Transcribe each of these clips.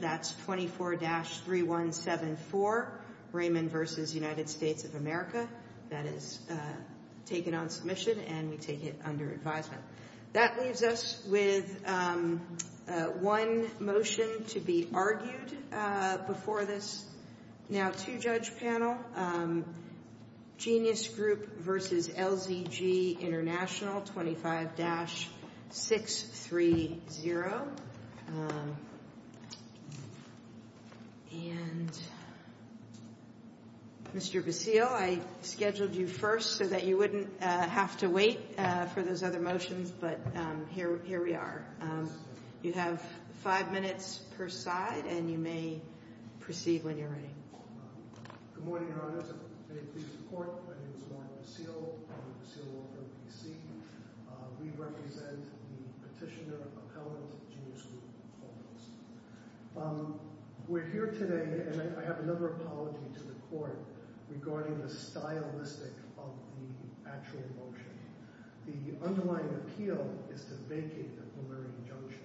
That's 24-3174, Raymond v. United States of America. That is taken on submission and we take it under advisement. That leaves us with one motion to be argued before this. Now to judge panel, Genius Group v. LZG International, 25-630, and Mr. Basile, I scheduled you first so that you wouldn't have to wait for those other motions, but here we are. You have five minutes per side and you may proceed when you're ready. Good morning, Your Honor. May it please the Court, my name is Warren Basile, I'm the Basile Law Firm PC. We represent the petitioner appellant, Genius Group. We're here today, and I have another apology to the Court regarding the stylistic of the actual motion. The underlying appeal is to vacate the Polari injunction.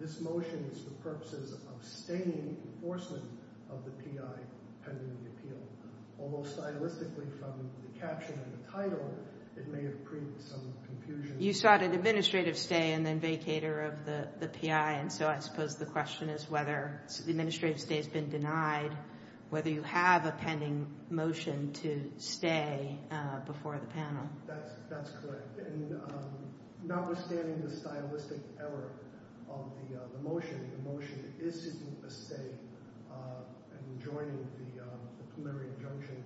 This motion is for purposes of staining enforcement of the PI pending the appeal. Although stylistically from the caption and the title, it may have created some confusion. You sought an administrative stay and then vacater of the PI, and so I suppose the question is whether the administrative stay has been denied, whether you have a pending motion to stay before the panel. That's correct. And notwithstanding the stylistic error of the motion, the motion isn't a stay and joining the Polari injunction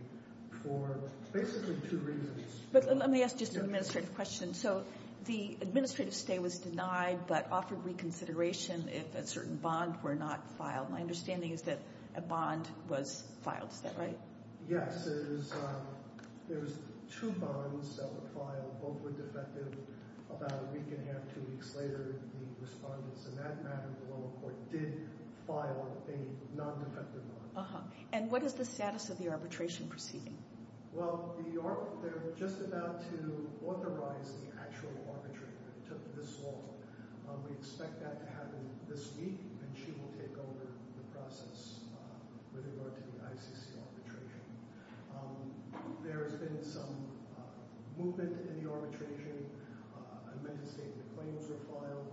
for basically two reasons. But let me ask just an administrative question. So the administrative stay was denied, but offered reconsideration if a certain bond were not filed. My understanding is that a bond was filed, is that right? Yes, there was two bonds that were filed. Both were defective. About a week and a half, two weeks later, the respondents in that matter, the lower court, did file a non-defective bond. And what is the status of the arbitration proceeding? Well, they're just about to authorize the actual arbitration. It took this long. We expect that to happen this week, and she will take over the process with regard to the ICC arbitration. There has been some movement in the arbitration. Administrative claims were filed.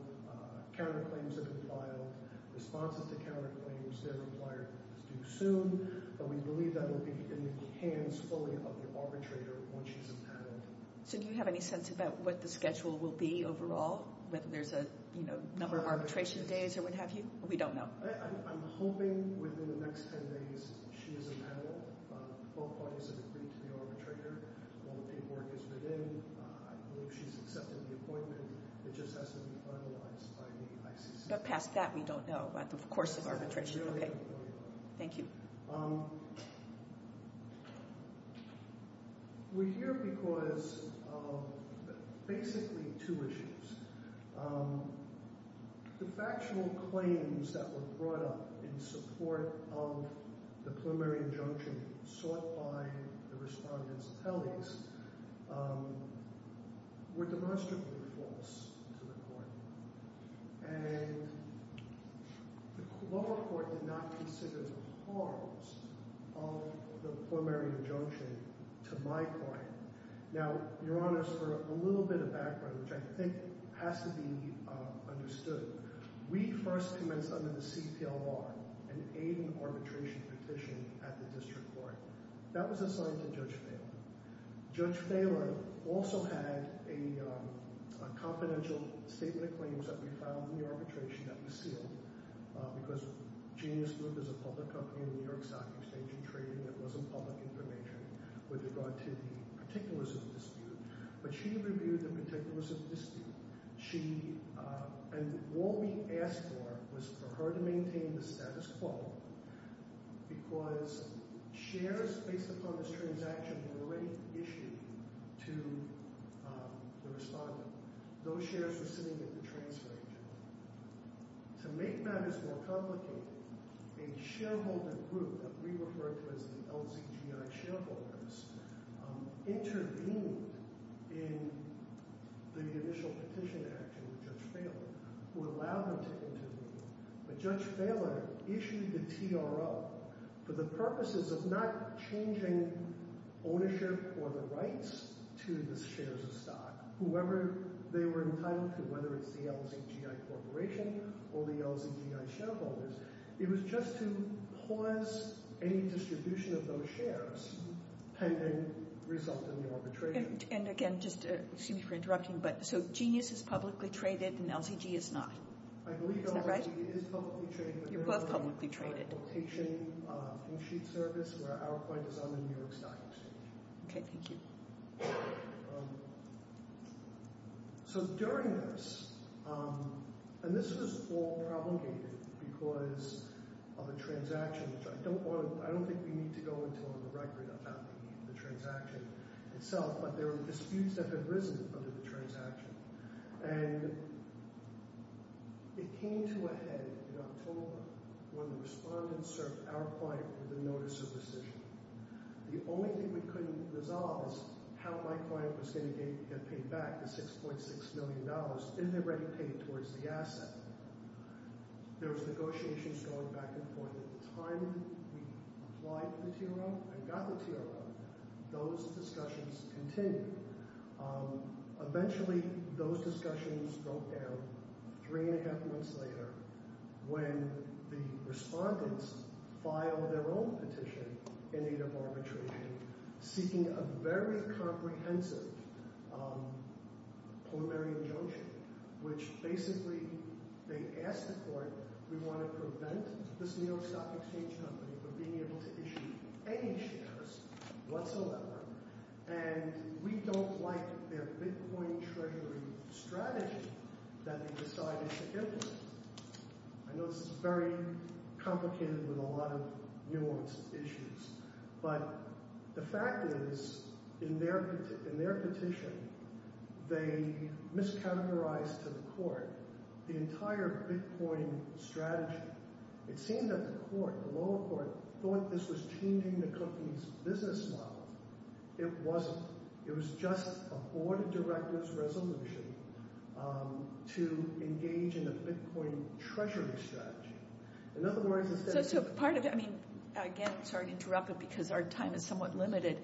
Counterclaims have been filed. Responses to counterclaims, they're required to do soon, but we believe that will be in the hands fully of the arbitrator once she's in panel. So do you have any sense about what the schedule will be overall, whether there's a number of arbitration days or what have you? We don't know. I'm hoping within the next 10 days, she is in panel. Both parties have agreed to the arbitrator. All the paperwork is within. I believe she's accepted the appointment. It just has to be finalized by the ICC. But past that, we don't know, but of course it's arbitration, okay. Thank you. We're here because of basically two issues. The factual claims that were brought up in support of the preliminary injunction sought by the respondents' attellies were demonstrably false to the court, and the lower court did not consider the harms of the preliminary injunction to my client. Now, your honors, for a little bit of background, which I think has to be understood, we first commenced under the CPLR, an aid in arbitration petition at the district court. That was assigned to Judge Phaler. Judge Phaler also had a confidential statement of claims that we found in the arbitration that was sealed because Genius Group is a public company in the New York Stock Exchange in trading that wasn't public information with regard to the particulars of the dispute. But she reviewed the particulars of the dispute. And what we asked for was for her to maintain the status quo because shares based upon this transaction were already issued to the respondent. Those shares were sitting at the transfer agent. To make matters more complicated, a shareholder group that we refer to as the LZGI shareholders intervened in the initial petition action with Judge Phaler who allowed them to intervene. But Judge Phaler issued the TRO for the purposes of not changing ownership or the rights to the shares of stock, whoever they were entitled to, whether it's the LZGI Corporation or the LZGI shareholders. It was just to pause any distribution of those shares pending result in the arbitration. And again, just excuse me for interrupting, but so Genius is publicly traded and LZG is not. I believe LZG is publicly traded. You're both publicly traded. Location from Sheets Service where our point is on the New York Stock Exchange. Okay, thank you. So during this, and this was all prolongated because of a transaction, which I don't think we need to go into on the record of how we meet the transaction itself, but there were disputes that had risen under the transaction. And it came to a head in October when the respondents served our client with a notice of rescission. The only thing we couldn't resolve is how my client was gonna get paid back the $6.6 million if they're ready to pay towards the asset. There was negotiations going back and forth. At the time we applied for the TRO and got the TRO, those discussions continued. Eventually those discussions broke down three and a half months later when the respondents filed their own petition in need of arbitration seeking a very comprehensive preliminary injunction, which basically they asked the court, we want to prevent this New York Stock Exchange company from being able to issue any shares whatsoever. And we don't like their Bitcoin treasury strategy that they decided to give us. I know this is very complicated with a lot of nuanced issues, but the fact is, in their petition, they mischaracterized to the court the entire Bitcoin strategy. It seemed that the court, the lower court, thought this was changing the company's business model. It wasn't. It was just a board of directors resolution to engage in a Bitcoin treasury strategy. In other words, instead of- So part of it, I mean, again, sorry to interrupt but because our time is somewhat limited,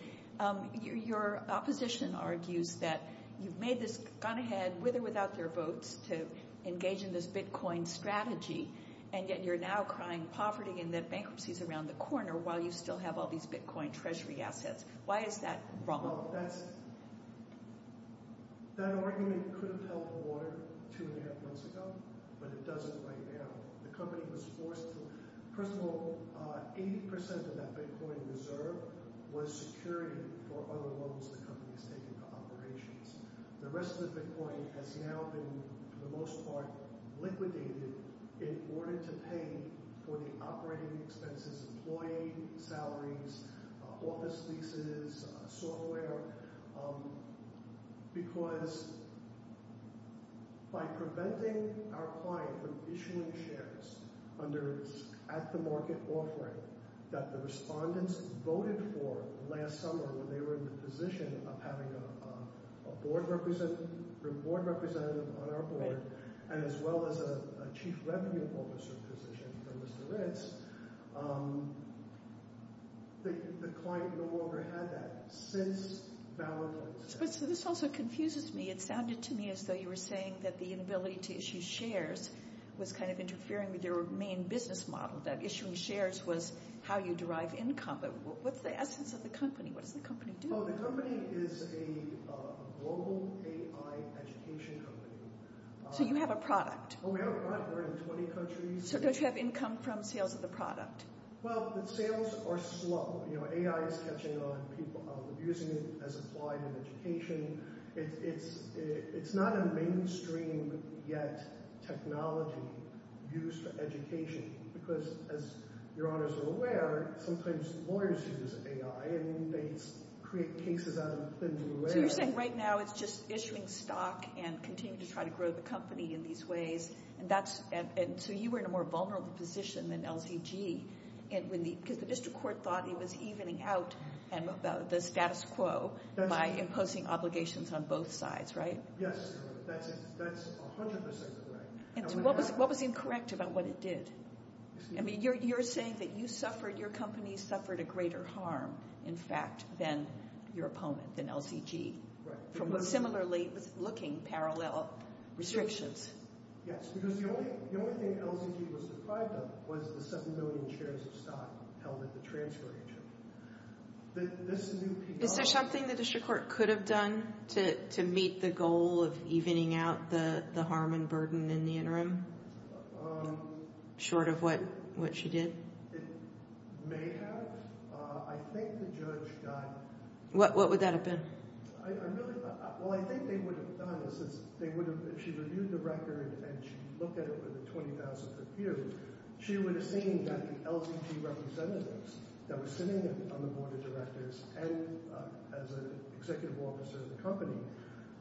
your opposition argues that you've made this, gone ahead with or without their votes to engage in this Bitcoin strategy, and yet you're now crying poverty in the bankruptcies around the corner while you still have all these Bitcoin treasury assets. Why is that wrong? That argument could have held water two and a half months ago, but it doesn't right now. The company was forced to, first of all, 80% of that Bitcoin reserve was security for other loans the company has taken for operations. The rest of the Bitcoin has now been, for the most part, liquidated in order to pay for the operating expenses, employee salaries, office leases, software, because by preventing our client from issuing shares under at-the-market offering that the respondents voted for last summer when they were in the position of having a board representative on our board and as well as a Chief Revenue Officer position for Mr. Ritz, the client no longer had that since Valentine's Day. So this also confuses me. It sounded to me as though you were saying that the inability to issue shares was kind of interfering with your main business model, that issuing shares was how you derive income. What's the essence of the company? What does the company do? Oh, the company is a global AI education company. So you have a product. Oh, we have a product. We're in 20 countries. So don't you have income from sales of the product? Well, the sales are slow. AI is catching on. People are using it as applied in education. It's not a mainstream yet technology used for education because as your honors are aware, sometimes lawyers use AI and they create cases out of thin air. So you're saying right now it's just issuing stock and continue to try to grow the company in these ways. And so you were in a more vulnerable position than LCG because the district court thought it was evening out the status quo by imposing obligations on both sides, right? Yes, that's 100% correct. And so what was incorrect about what it did? I mean, you're saying that you suffered, your company suffered a greater harm in fact than your opponent, than LCG. From what similarly was looking parallel restrictions. Yes, because the only thing LCG was deprived of was the 7 million shares of stock held at the transfer agent. Is there something the district court could have done to meet the goal of evening out the harm and burden in the interim? Short of what she did? May have, I think the judge got- What would that have been? I really, well, I think they would have done is, they would have, if she reviewed the record and she looked at it with a 20,000 per view, she would have seen that the LCG representatives that were sitting on the board of directors and as an executive officer of the company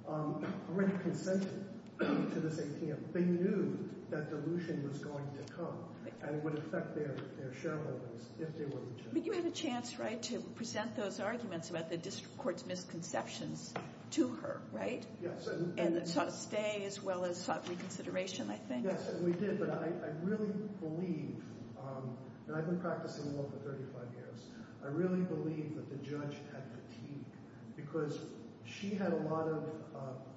already consented to this ATM. They knew that dilution was going to come and would affect their shareholders if they were to- But you had a chance, right? To present those arguments about the district court's misconceptions to her, right? Yes. And sought a stay as well as sought reconsideration, I think. Yes, and we did, but I really believe, and I've been practicing law for 35 years, I really believe that the judge had fatigue because she had a lot of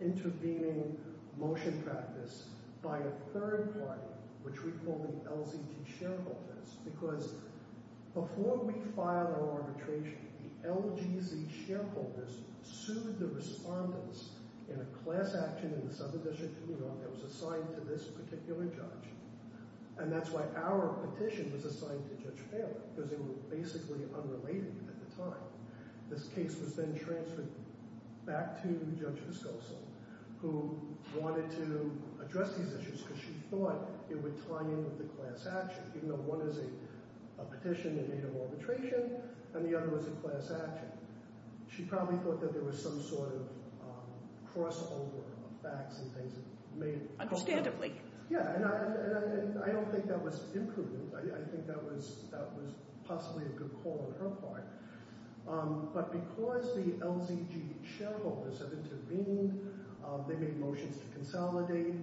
intervening motion practice by a third party, which we call the LZT shareholders, because before we filed our arbitration, the LGZ shareholders sued the respondents in a class action in the Southern District that was assigned to this particular judge. And that's why our petition was assigned to Judge Paley, because they were basically unrelated at the time. This case was then transferred back to Judge Viscoso, who wanted to address these issues because she thought it would tie in with the class action, even though one is a petition in native arbitration and the other was a class action. She probably thought that there was some sort of crossover of facts and things that made- Understandably. Yeah, and I don't think that was imprudent. I think that was possibly a good call on her part. But because the LZG shareholders have intervened, they made motions to consolidate,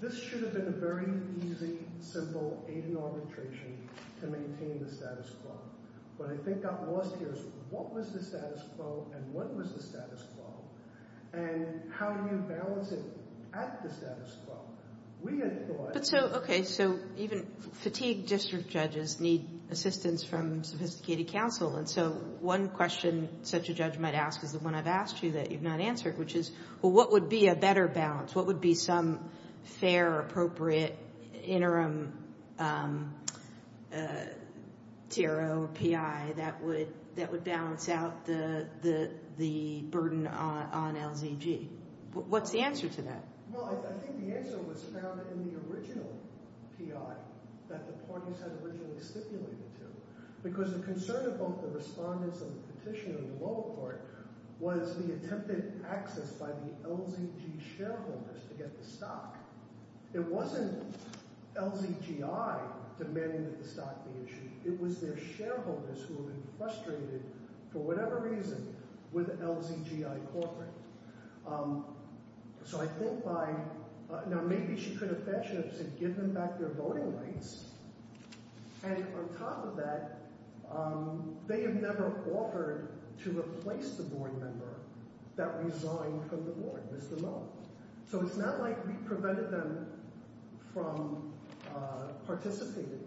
this should have been a very easy, simple aid and arbitration to maintain the status quo. What I think got lost here is what was the status quo and when was the status quo? And how do you balance it at the status quo? We had thought- But so, okay, so even fatigued district judges need assistance from sophisticated counsel. And so one question such a judge might ask is the one I've asked you that you've not answered, which is, well, what would be a better balance? What would be some fair or appropriate interim TRO or PI that would balance out the burden on LZG? What's the answer to that? Well, I think the answer was found in the original PI that the parties had originally stipulated to. Because the concern of both the respondents and the petitioner in the lower court was the attempted access by the LZG shareholders to get the stock. It wasn't LZGI demanding that the stock be issued. It was their shareholders who had been frustrated for whatever reason with LZGI corporate. So I think by, now maybe she could have fashionably said, give them back their voting rights. And on top of that, they have never offered to replace the board member that resigned from the board, Mr. Moe. So it's not like we prevented them from participating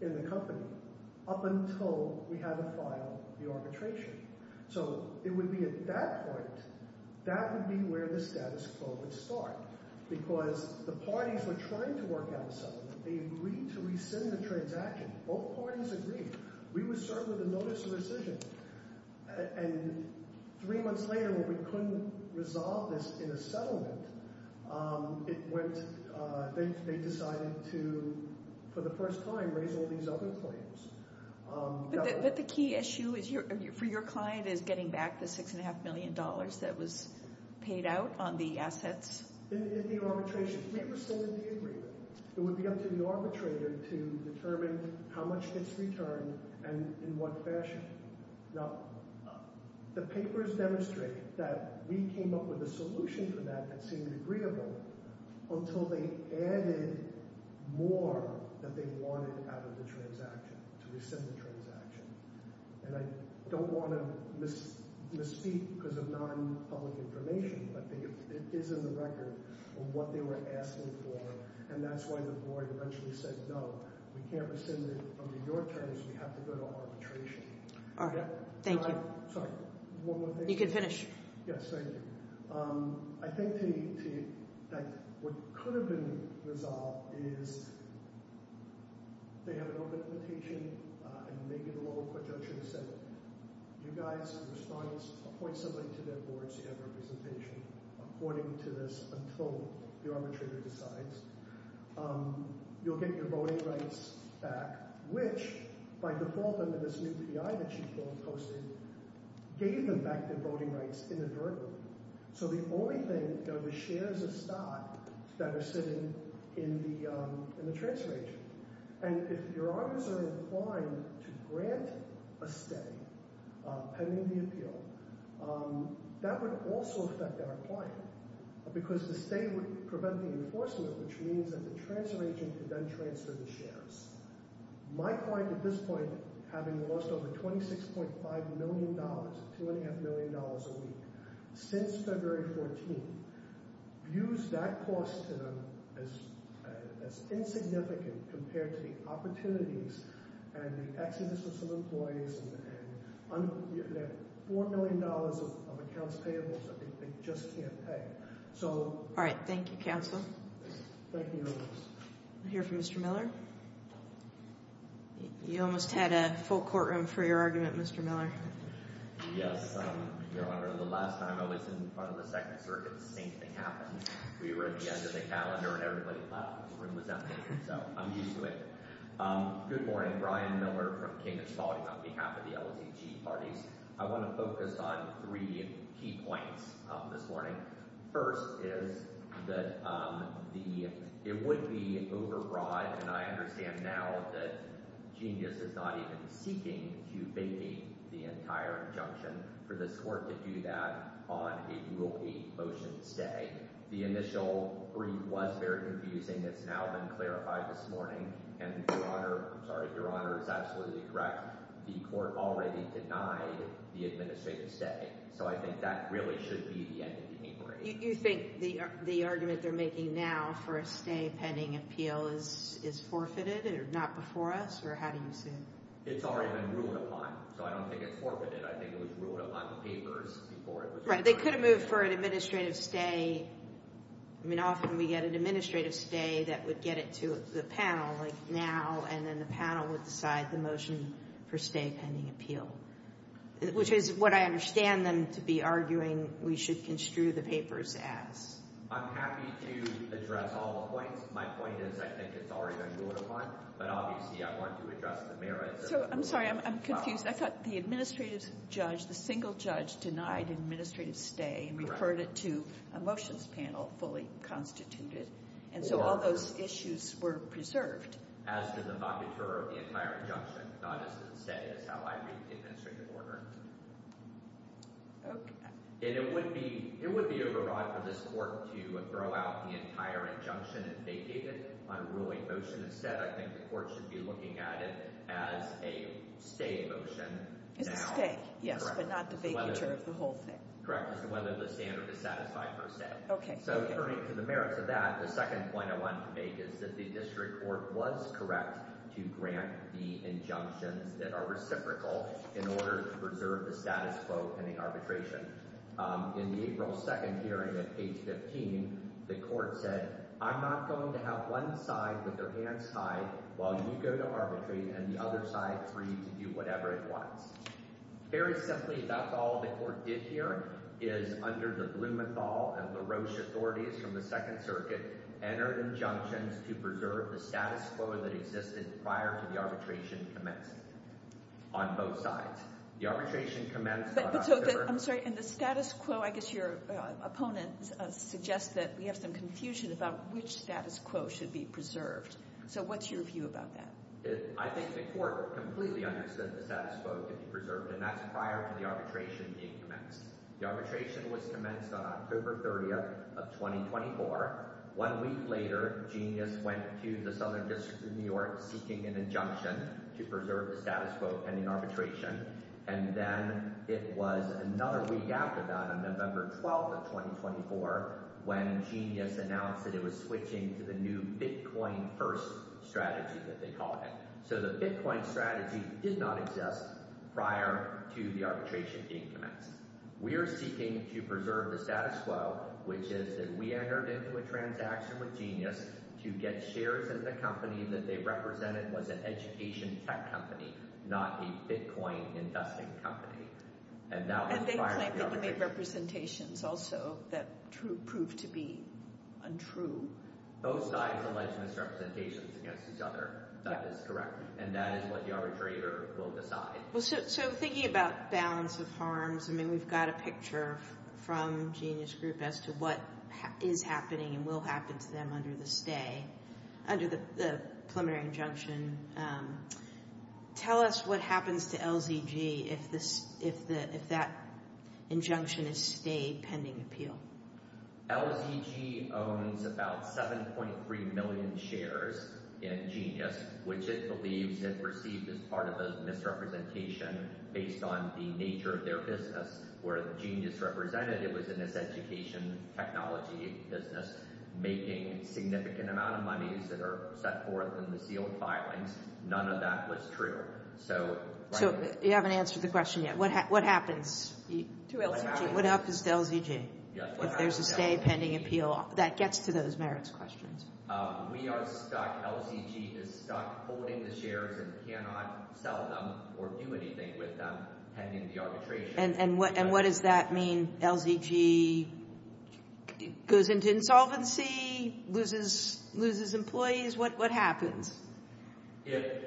in the company up until we had to file the arbitration. So it would be at that point, that would be where the status quo would start. Because the parties were trying to work out a settlement. They agreed to rescind the transaction. Both parties agreed. We would start with a notice of rescission. And three months later, when we couldn't resolve this in a settlement, they decided to, for the first time, raise all these other claims. But the key issue for your client is getting back the $6.5 million that was paid out on the assets? In the arbitration, we rescinded the agreement. It would be up to the arbitrator to determine how much gets returned and in what fashion. Now, the papers demonstrate that we came up with a solution for that that seemed agreeable until they added more that they wanted out of the transaction, to rescind the transaction. And I don't wanna misspeak because of non-public information but it is in the record of what they were asking for. And that's why the board eventually said, no, we can't rescind it under your terms. We have to go to arbitration. All right, thank you. Sorry, one more thing. You can finish. Yes, thank you. I think that what could have been resolved is they had an open invitation and Megan Lowe, a court judge, would have said, you guys, in response, appoint somebody to their board so you have representation according to this until the arbitrator decides. You'll get your voting rights back, which, by default under this new P.I. that she posted, gave them back their voting rights inadvertently. So the only thing, the shares of stock that are sitting in the transaction. And if your arbiters are inclined to grant a stay pending the appeal, that would also affect our client because the state would prevent the enforcement, which means that the transfer agent could then transfer the shares. My client at this point, having lost over $26.5 million, $2.5 million a week, since February 14th, views that cost to them as insignificant compared to the opportunities and the exodus of some employees and they have $4 million of accounts payable that they just can't pay. All right, thank you, counsel. Thank you, Your Honor. We'll hear from Mr. Miller. You almost had a full courtroom for your argument, Mr. Miller. Yes, Your Honor. The last time I was in front of the Second Circuit, the same thing happened. We were at the end of the calendar and everybody laughed when the room was empty. So I'm used to it. Good morning. I'm Brian Miller from King & Spalding on behalf of the LZG parties. I want to focus on three key points this morning. First is that it would be overbroad and I understand now that Genius is not even seeking to vacate the entire injunction for this court to do that on a Rule 8 motion stay. The initial brief was very confusing. It's now been clarified this morning and, Your Honor, I'm sorry, Your Honor is absolutely correct. The court already denied the administrative stay. So I think that really should be the end of the hearing. You think the argument they're making now for a stay pending appeal is forfeited and not before us or how do you see it? It's already been ruled upon. So I don't think it's forfeited. I think it was ruled upon in the papers before it was. Right, they could have moved for an administrative stay. I mean, often we get an administrative stay that would get it to the panel like now and then the panel would decide the motion for stay pending appeal, which is what I understand them to be arguing we should construe the papers as. I'm happy to address all the points. My point is I think it's already been ruled upon, but obviously I want to address the merits. So I'm sorry, I'm confused. I thought the administrative judge, the single judge denied administrative stay and referred it to a motions panel fully constituted. And so all those issues were preserved. As to the vacatur of the entire injunction, not as it's said, it's how I read the administrative order. Okay. And it would be overwrought for this court to throw out the entire injunction and vacate it on a ruling motion. Instead, I think the court should be looking at it as a stay motion now. It's a stay, yes, but not the vacatur of the whole thing. Correct, as to whether the standard is satisfied per se. Okay, okay. So referring to the merits of that, the second point I want to make is that the district court was correct to grant the injunctions that are reciprocal in order to preserve the status quo pending arbitration. In the April 2nd hearing at page 15, the court said, I'm not going to have one side with their hands tied while you go to arbitrate and the other side free to do whatever it wants. Very simply, that's all the court did here is under the Blumenthal and LaRoche authorities from the Second Circuit, entered injunctions to preserve the status quo that existed prior to the arbitration commenced on both sides. The arbitration commenced on October. I'm sorry, and the status quo, I guess your opponent suggests that we have some confusion about which status quo should be preserved. So what's your view about that? I think the court completely understood the status quo to be preserved and that's prior to the arbitration being commenced. The arbitration was commenced on October 30th of 2024. One week later, Genius went to the Southern District of New York seeking an injunction to preserve the status quo pending arbitration. And then it was another week after that, on November 12th of 2024, when Genius announced that it was switching to the new Bitcoin first strategy that they called it. So the Bitcoin strategy did not exist prior to the arbitration being commenced. We are seeking to preserve the status quo, which is that we entered into a transaction with Genius to get shares as the company that they represented was an education tech company, not a Bitcoin investing company. And that was prior to the arbitration. And they claimed that you made representations also that proved to be untrue. Both sides alleged misrepresentations against each other. That is correct. And that is what the arbitrator will decide. So thinking about balance of harms, I mean, we've got a picture from Genius Group as to what is happening and will happen to them under the stay, under the preliminary injunction. Tell us what happens to LZG if that injunction is stayed pending appeal. LZG owns about 7.3 million shares in Genius, which it believes it received as part of a misrepresentation based on the nature of their business. Where Genius represented, it was in this education technology business, making significant amount of monies that are set forth in the sealed filings. None of that was true. So- So you haven't answered the question yet. What happens? To LZG. What happens to LZG if there's a stay pending appeal? That gets to those merits questions. We are stuck. LZG is stuck holding the shares and cannot sell them or do anything with them pending the arbitration. And what does that mean? LZG goes into insolvency, loses employees? What happens? If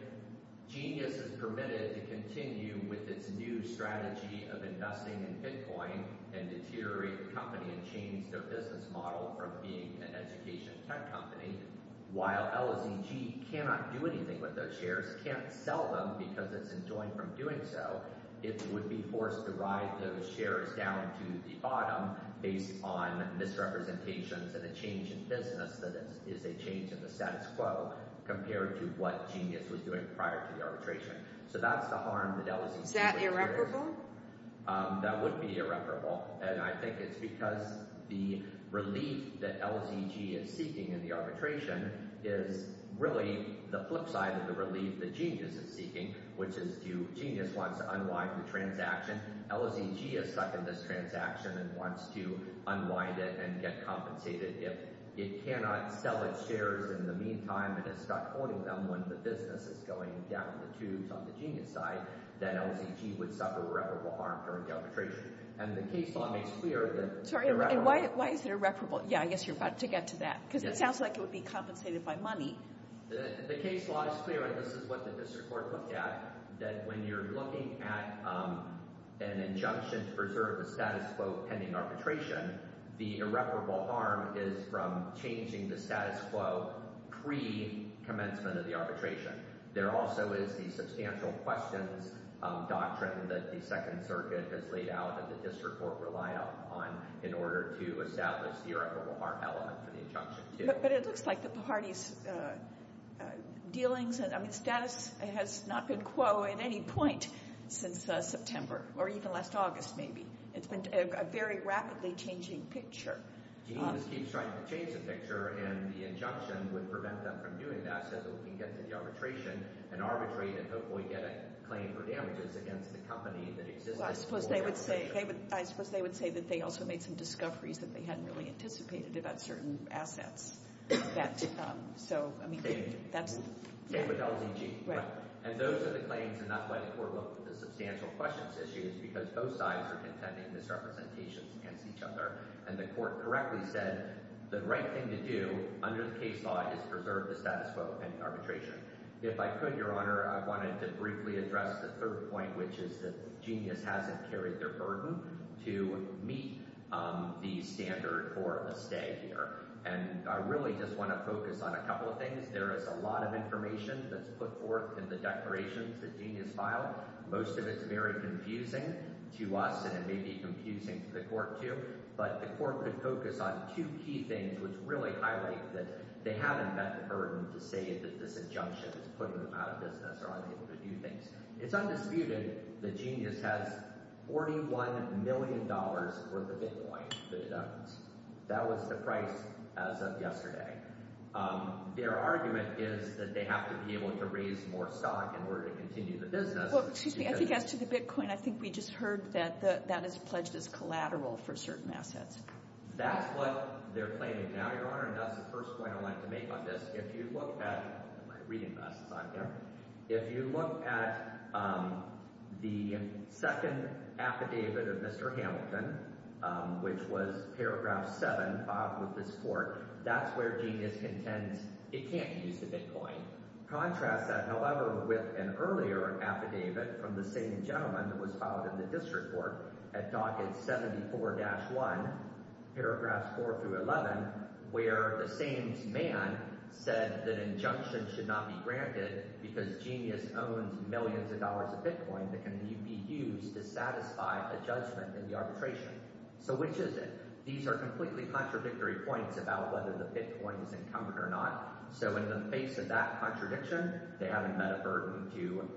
Genius is permitted to continue with its new strategy of investing in Bitcoin and deteriorate the company and change their business model from being an education tech company, while LZG cannot do anything with those shares, can't sell them because it's enjoined from doing so, it would be forced to ride those shares down to the bottom based on misrepresentations and a change in business that is a change in the status quo compared to what Genius was doing prior to the arbitration. So that's the harm that LZG- Is that irreparable? That would be irreparable. And I think it's because the relief that LZG is seeking in the arbitration is really the flip side of the relief that Genius is seeking, which is Genius wants to unwind the transaction. LZG is stuck in this transaction and wants to unwind it and get compensated. If it cannot sell its shares in the meantime and is stuck holding them when the business is going down the tubes on the Genius side, then LZG would suffer irreparable harm during the arbitration. And the case law makes clear that- Sorry, why is it irreparable? Yeah, I guess you're about to get to that because it sounds like it would be compensated by money. The case law is clear, and this is what the district court looked at, that when you're looking at an injunction to preserve the status quo pending arbitration, the irreparable harm is from changing the status quo pre-commencement of the arbitration. There also is the substantial questions doctrine that the Second Circuit has laid out that the district court relied upon in order to establish the irreparable harm element for the injunction, too. But it looks like the party's dealings, I mean, status has not been quo at any point since September or even last August, maybe. It's been a very rapidly changing picture. Genius keeps trying to change the picture, and the injunction would prevent them from doing that so that we can get to the arbitration and arbitrate and hopefully get a claim for damages against the company that existed before the injunction. So I suppose they would say, I suppose they would say that they also made some discoveries that they hadn't really anticipated about certain assets. So, I mean, that's, yeah. Same with LZG. Right. And those are the claims, and that's why the court looked at the substantial questions issues, because both sides are contending misrepresentations against each other. And the court correctly said, the right thing to do under the case law is preserve the status quo pending arbitration. If I could, Your Honor, I wanted to briefly address the third point, which is that Genius hasn't carried their burden to meet the standard for a stay here. And I really just want to focus on a couple of things. There is a lot of information that's put forth in the declarations that Genius filed. Most of it's very confusing to us, and it may be confusing to the court too, but the court could focus on two key things which really highlight that they haven't met the burden to say that this injunction is putting them out of business or unable to do things. It's undisputed that Genius has $41 million worth of Bitcoin that it owns. That was the price as of yesterday. Their argument is that they have to be able to raise more stock in order to continue the business. Well, excuse me, I think as to the Bitcoin, I think we just heard that that is pledged as collateral for certain assets. That's what they're claiming now, Your Honor, and that's the first point I'd like to make on this. If you look at, I'm reading this, it's on camera, if you look at the second affidavit of Mr. Hamilton, which was paragraph seven, filed with this court, that's where Genius contends it can't use the Bitcoin. Contrast that, however, with an earlier affidavit from the same gentleman that was filed in the district court at docket 74-1, paragraphs four through 11, where the same man said that injunction should not be granted because Genius owns millions of dollars of Bitcoin that can be used to satisfy a judgment in the arbitration. So which is it? These are completely contradictory points about whether the Bitcoin is encumbered or not. So in the face of that contradiction, they haven't met a burden to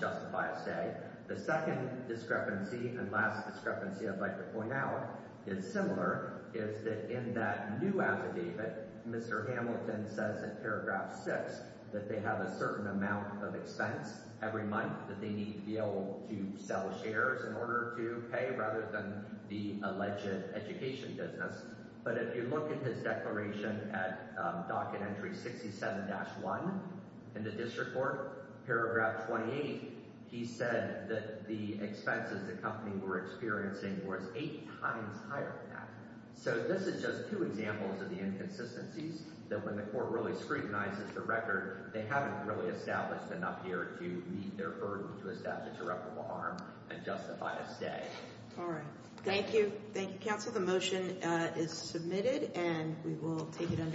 justify a say. The second discrepancy and last discrepancy I'd like to point out is similar, is that in that new affidavit, Mr. Hamilton says in paragraph six that they have a certain amount of expense every month that they need to be able to sell shares in order to pay rather than the alleged education business. But if you look at his declaration at docket entry 67-1 in the district court, paragraph 28, he said that the expenses the company were experiencing was eight times higher than that. So this is just two examples of the inconsistencies that when the court really scrutinizes the record, they haven't really established enough here to meet their burden to establish a reputable arm and justify a stay. All right. Thank you. Thank you, counsel. The motion is submitted and we will take it under-